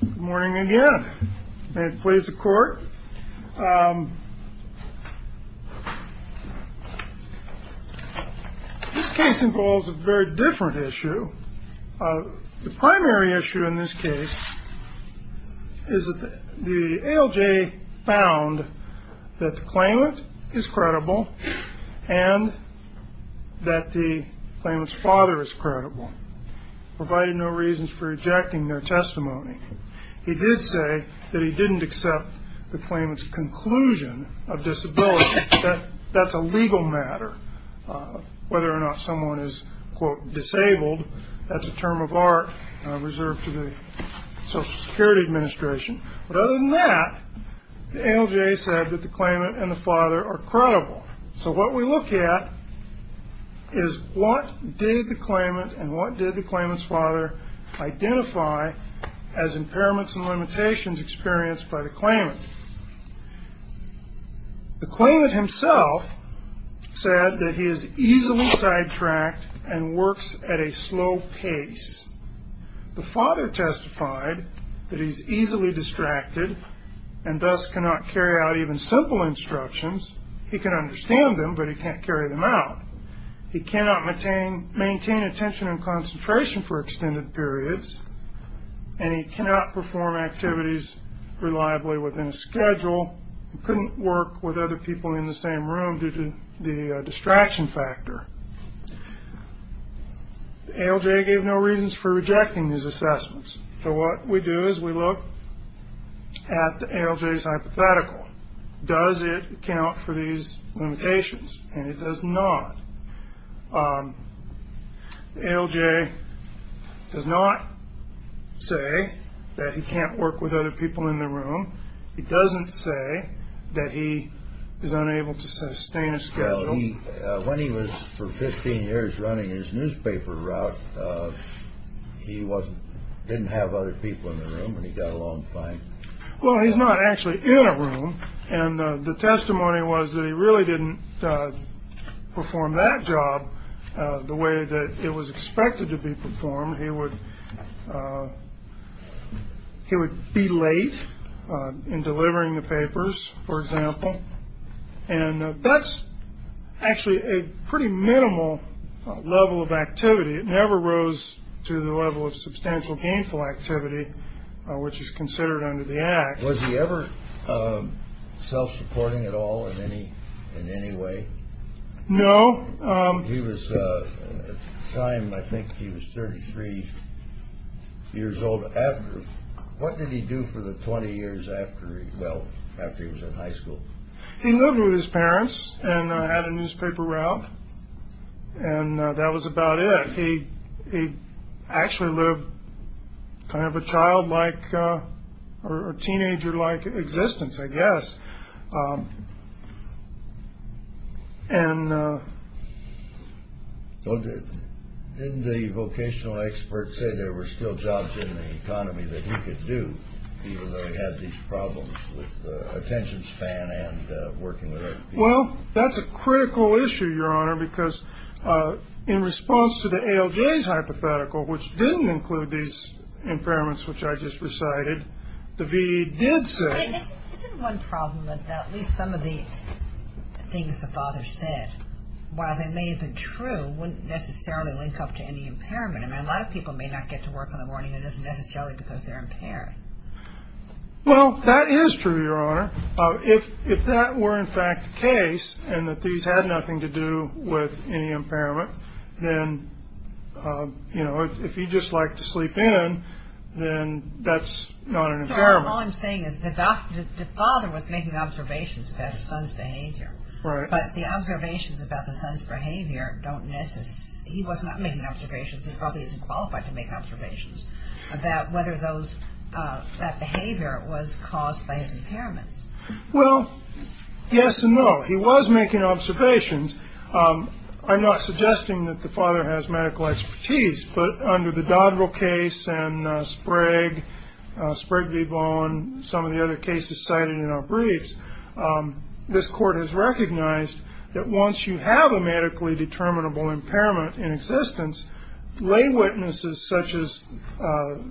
Good morning again. May it please the court. This case involves a very different issue. The primary issue in this case is that the ALJ found that the claimant is credible and that the claimant's father is credible, provided no reasons for rejecting their testimony. He did say that he didn't accept the claimant's conclusion of disability. That's a legal matter, whether or not someone is, quote, disabled. That's a term of art reserved to the Social Security Administration. But other than that, the ALJ said that the claimant and the father are credible. So what we look at is what did the claimant and what did the claimant's father identify as impairments and limitations experienced by the claimant. The claimant himself said that he is easily sidetracked and works at a slow pace. The father testified that he's easily distracted and thus cannot carry out even simple instructions. He can understand them, but he can't carry them out. He cannot maintain attention and concentration for extended periods, and he cannot perform activities reliably within a schedule. He couldn't work with other people in the same room due to the distraction factor. The ALJ gave no reasons for rejecting these assessments. So what we do is we look at the ALJ's hypothetical. Does it account for these limitations? And it does not. The ALJ does not say that he can't work with other people in the room. It doesn't say that he is unable to sustain a schedule. So when he was for 15 years running his newspaper route, he didn't have other people in the room and he got along fine. Well, he's not actually in a room. And the testimony was that he really didn't perform that job the way that it was expected to be performed. He would be late in delivering the papers, for example. And that's actually a pretty minimal level of activity. It never rose to the level of substantial gainful activity, which is considered under the act. Was he ever self-supporting at all in any way? No. At the time, I think he was 33 years old. What did he do for the 20 years after, well, after he was in high school? He lived with his parents and had a newspaper route. And that was about it. He actually lived kind of a childlike or teenagerlike existence, I guess. Didn't the vocational expert say there were still jobs in the economy that he could do, even though he had these problems with attention span and working with other people? Well, that's a critical issue, Your Honor, because in response to the ALJ's hypothetical, which didn't include these impairments, which I just recited, the V.E. did say. Isn't one problem that at least some of the things the father said, while they may have been true, wouldn't necessarily link up to any impairment? I mean, a lot of people may not get to work in the morning. It isn't necessarily because they're impaired. Well, that is true, Your Honor. If that were, in fact, the case and that these had nothing to do with any impairment, then, you know, if he just liked to sleep in, then that's not an impairment. All I'm saying is the doctor, the father was making observations about his son's behavior. But the observations about the son's behavior don't necessarily. He was not making observations. He probably isn't qualified to make observations about whether those that behavior was caused by his impairments. Well, yes and no. He was making observations. I'm not suggesting that the father has medical expertise. But under the Dodrell case and Sprague, Sprague v. Vaughan, some of the other cases cited in our briefs, this court has recognized that once you have a medically determinable impairment in existence, lay witnesses such as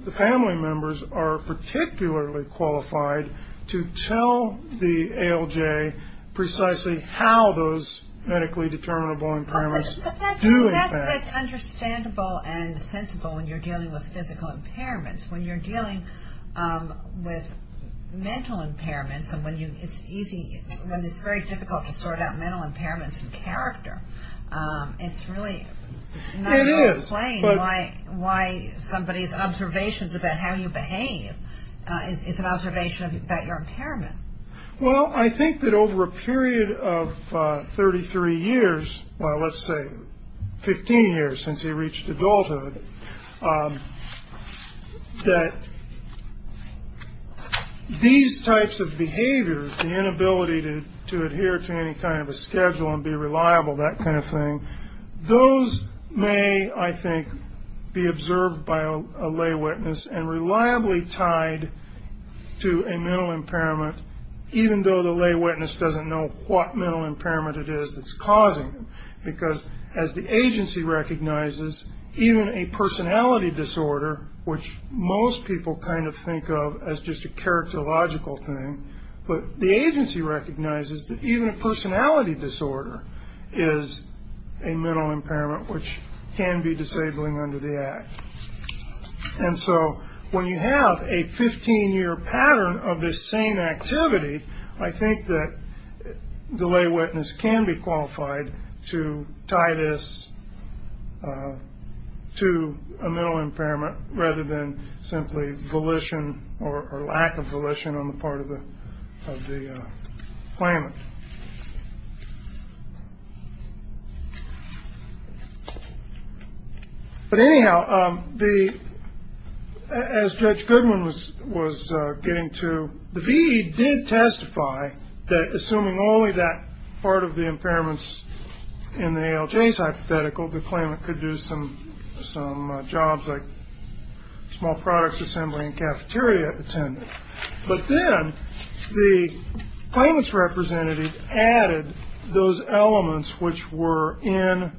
the family members are particularly qualified to tell the ALJ precisely how those medically determinable impairments do affect. But that's understandable and sensible when you're dealing with physical impairments. When you're dealing with mental impairments and when it's very difficult to sort out mental impairments and character, it's really not. It is. Why somebody's observations about how you behave is an observation about your impairment. Well, I think that over a period of 33 years, well, let's say 15 years since he reached adulthood, that these types of behaviors, the inability to adhere to any kind of a schedule and be reliable, that kind of thing, those may, I think, be observed by a lay witness and reliably tied to a mental impairment, even though the lay witness doesn't know what mental impairment it is that's causing them. Because as the agency recognizes, even a personality disorder, which most people kind of think of as just a characterological thing, but the agency recognizes that even a personality disorder is a mental impairment which can be disabling under the act. And so when you have a 15-year pattern of this same activity, I think that the lay witness can be qualified to tie this to a mental impairment rather than simply volition or lack of volition on the part of the claimant. But anyhow, as Judge Goodwin was getting to, the V.E. did testify that assuming only that part of the impairments in the ALJ's hypothetical, the claimant could do some jobs like small products assembly and cafeteria attendance. But then the claimant's representative added those elements which were in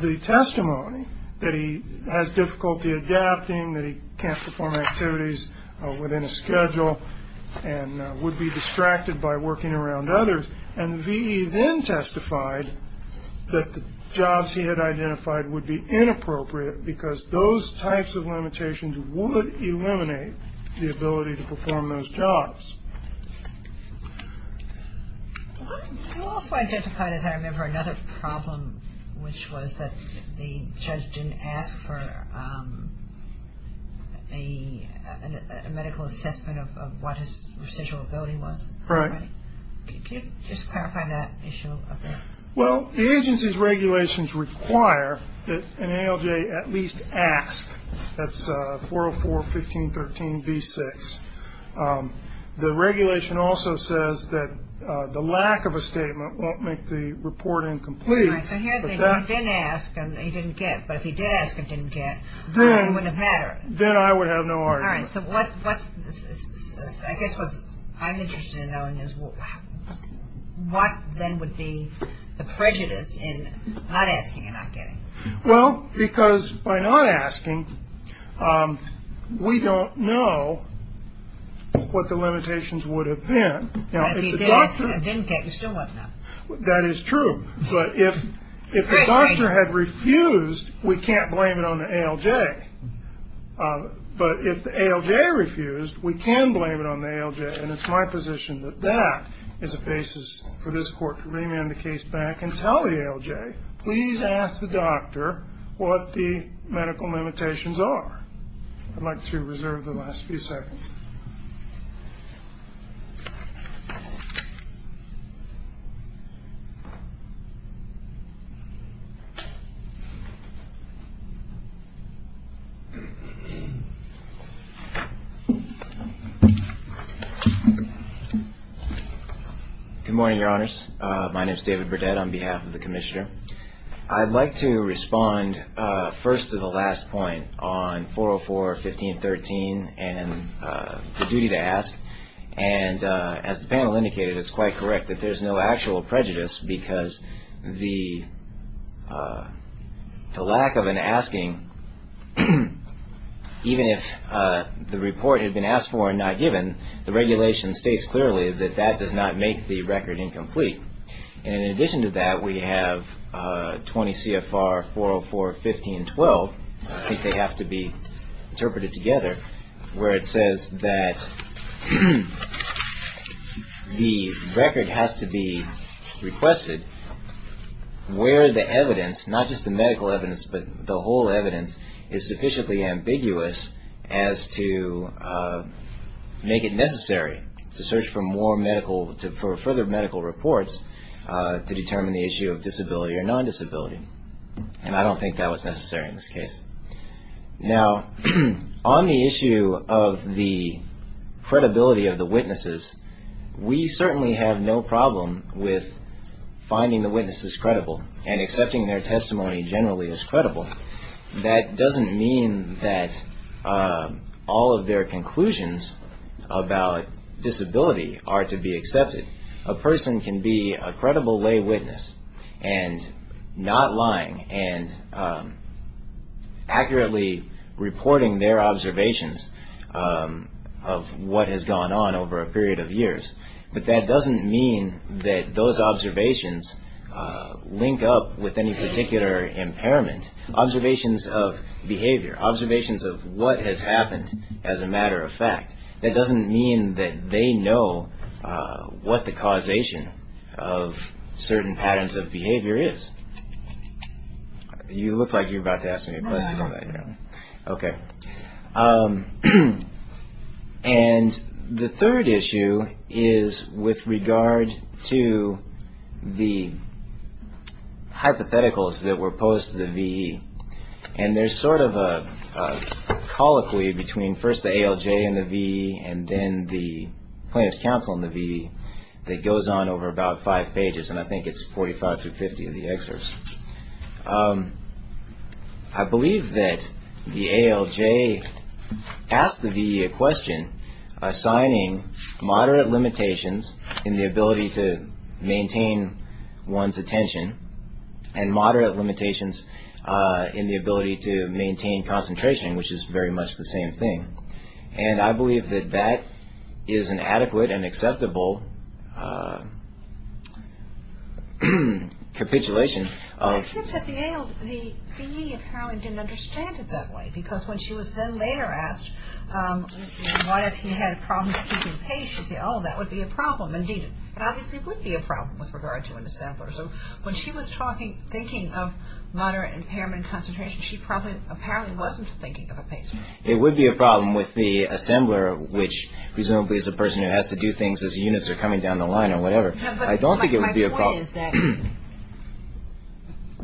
the testimony, that he has difficulty adapting, that he can't perform activities within a schedule and would be distracted by working around others. And the V.E. then testified that the jobs he had identified would be inappropriate because those types of limitations would eliminate the ability to perform those jobs. You also identified, as I remember, another problem, which was that the judge didn't ask for a medical assessment of what his residual ability was. Right. Can you just clarify that issue a bit? Well, the agency's regulations require that an ALJ at least ask. That's 404.15.13.V.6. The regulation also says that the lack of a statement won't make the report incomplete. All right. So here then, you didn't ask and he didn't get. But if he did ask and didn't get, it wouldn't have mattered. Then I would have no argument. All right. So I guess what I'm interested in knowing is what then would be the prejudice in not asking and not getting. Well, because by not asking, we don't know what the limitations would have been. If he did ask and didn't get, he still wouldn't have. That is true. But if the doctor had refused, we can't blame it on the ALJ. But if the ALJ refused, we can blame it on the ALJ. And it's my position that that is a basis for this court to remand the case back and tell the ALJ, please ask the doctor what the medical limitations are. I'd like to reserve the last few seconds. My name is David Burdette on behalf of the Commissioner. I'd like to respond first to the last point on 404.15.13 and the duty to ask. And as the panel indicated, it's quite correct that there's no actual prejudice because the lack of an asking, even if the report had been asked for and not given, the regulation states clearly that that does not make the record incomplete. And in addition to that, we have 20 CFR 404.15.12, I think they have to be interpreted together, where it says that the record has to be requested where the evidence, not just the medical evidence, but the whole evidence is sufficiently ambiguous as to make it necessary to search for more medical, for further medical reports to determine the issue of disability or non-disability. And I don't think that was necessary in this case. Now, on the issue of the credibility of the witnesses, we certainly have no problem with finding the witnesses credible and accepting their testimony generally as credible. That doesn't mean that all of their conclusions about disability are to be accepted. A person can be a credible lay witness and not lying and accurately reporting their observations of what has gone on over a period of years. But that doesn't mean that those observations link up with any particular impairment. Observations of behavior, observations of what has happened as a matter of fact, that doesn't mean that they know what the causation of certain patterns of behavior is. You look like you're about to ask me a question on that. Okay. And the third issue is with regard to the hypotheticals that were posed to the VE. And there's sort of a colloquy between first the ALJ and the VE and then the Plaintiff's Counsel and the VE that goes on over about five pages, and I think it's 45 through 50 of the excerpts. I believe that the ALJ asked the VE a question assigning moderate limitations in the ability to maintain one's attention and moderate limitations in the ability to maintain concentration, which is very much the same thing. And I believe that that is an adequate and acceptable capitulation. Except that the VE apparently didn't understand it that way because when she was then later asked what if he had problems keeping pace, she said, oh, that would be a problem, indeed it obviously would be a problem with regard to an assembler. So when she was talking, thinking of moderate impairment and concentration, she probably, apparently wasn't thinking of a pace problem. It would be a problem with the assembler, which presumably is a person who has to do things as units are coming down the line or whatever. I don't think it would be a problem. No, but my point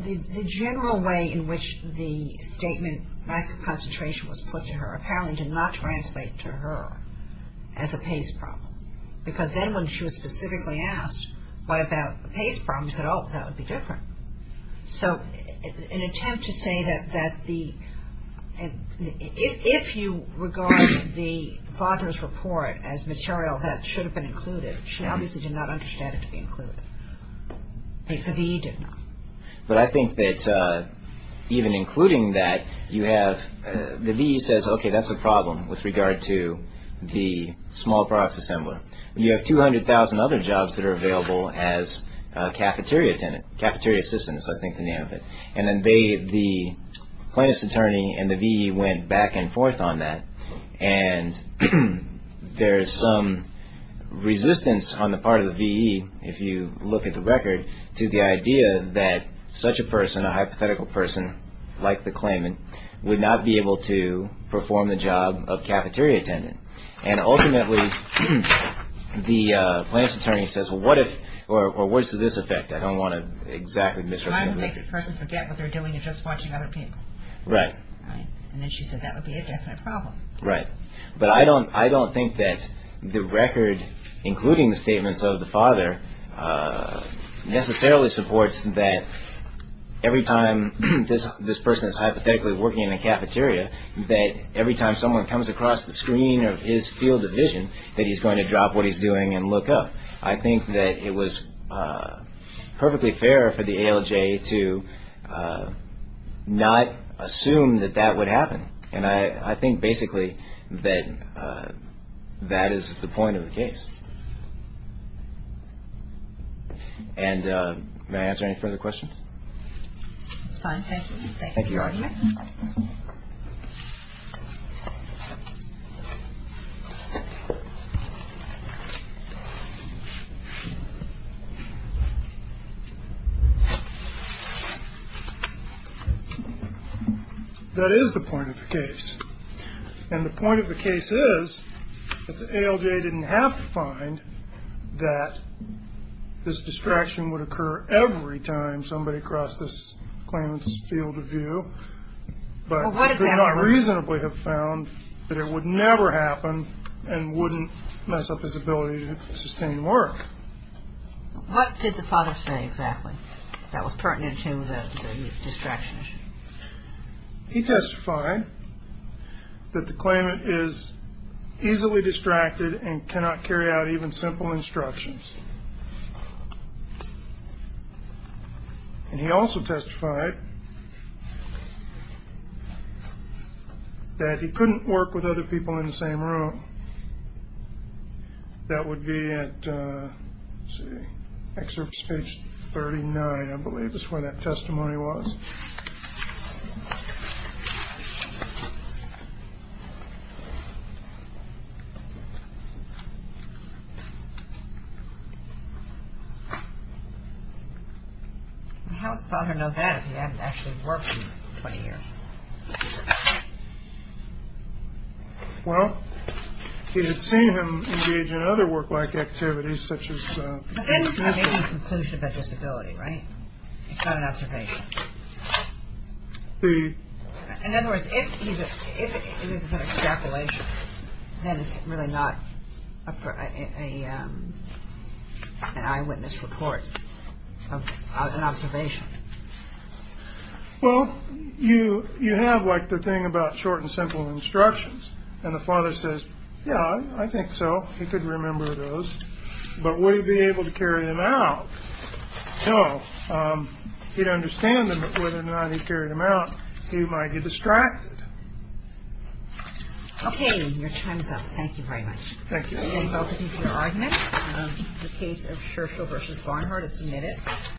is that the general way in which the statement lack of concentration was put to her apparently did not translate to her as a pace problem because then when she was specifically asked what about the pace problems, she said, oh, that would be different. So in an attempt to say that if you regard the father's report as material that should have been included, she obviously did not understand it to be included. The VE did not. But I think that even including that, you have, the VE says, okay, that's a problem with regard to the small products assembler. You have 200,000 other jobs that are available as cafeteria assistants, I think the name of it. And then the plaintiff's attorney and the VE went back and forth on that. And there's some resistance on the part of the VE, if you look at the record, to the idea that such a person, a hypothetical person like the claimant, would not be able to perform the job of cafeteria attendant. And ultimately the plaintiff's attorney says, well, what if, or what's the effect? I don't want to exactly misrepresent it. It might make the person forget what they're doing and just watching other people. Right. And then she said that would be a definite problem. Right. necessarily supports that every time this person is hypothetically working in a cafeteria, that every time someone comes across the screen of his field of vision, that he's going to drop what he's doing and look up. I think that it was perfectly fair for the ALJ to not assume that that would happen. And I think basically that that is the point of the case. And may I answer any further questions? That's fine. Thank you, Your Honor. That is the point of the case. And the point of the case is that the ALJ didn't have to find that this distraction would occur every time somebody crossed this claimant's field of view. But they did not reasonably have found that it would never happen and wouldn't mess up his ability to sustain work. What did the father say exactly that was pertinent to the distraction issue? He testified that the claimant is easily distracted and cannot carry out even simple instructions. And he also testified that he couldn't work with other people in the same room. That would be at, let's see, excerpts page 39, I believe is where that testimony was. How would the father know that if he hadn't actually worked for 20 years? Well, he had seen him engage in other work-like activities such as. But then he's making a conclusion about disability, right? It's not an observation. In other words, if this is an extrapolation, then it's really not an eyewitness report, an observation. Well, you have, like, the thing about short and simple instructions. And the father says, yeah, I think so. He could remember those. But would he be able to carry them out? No. He'd understand them, but whether or not he carried them out, he might get distracted. Okay. Your time's up. Thank you very much. Thank you. Welcome to your argument. The case of Scherchel v. Barnhart is submitted.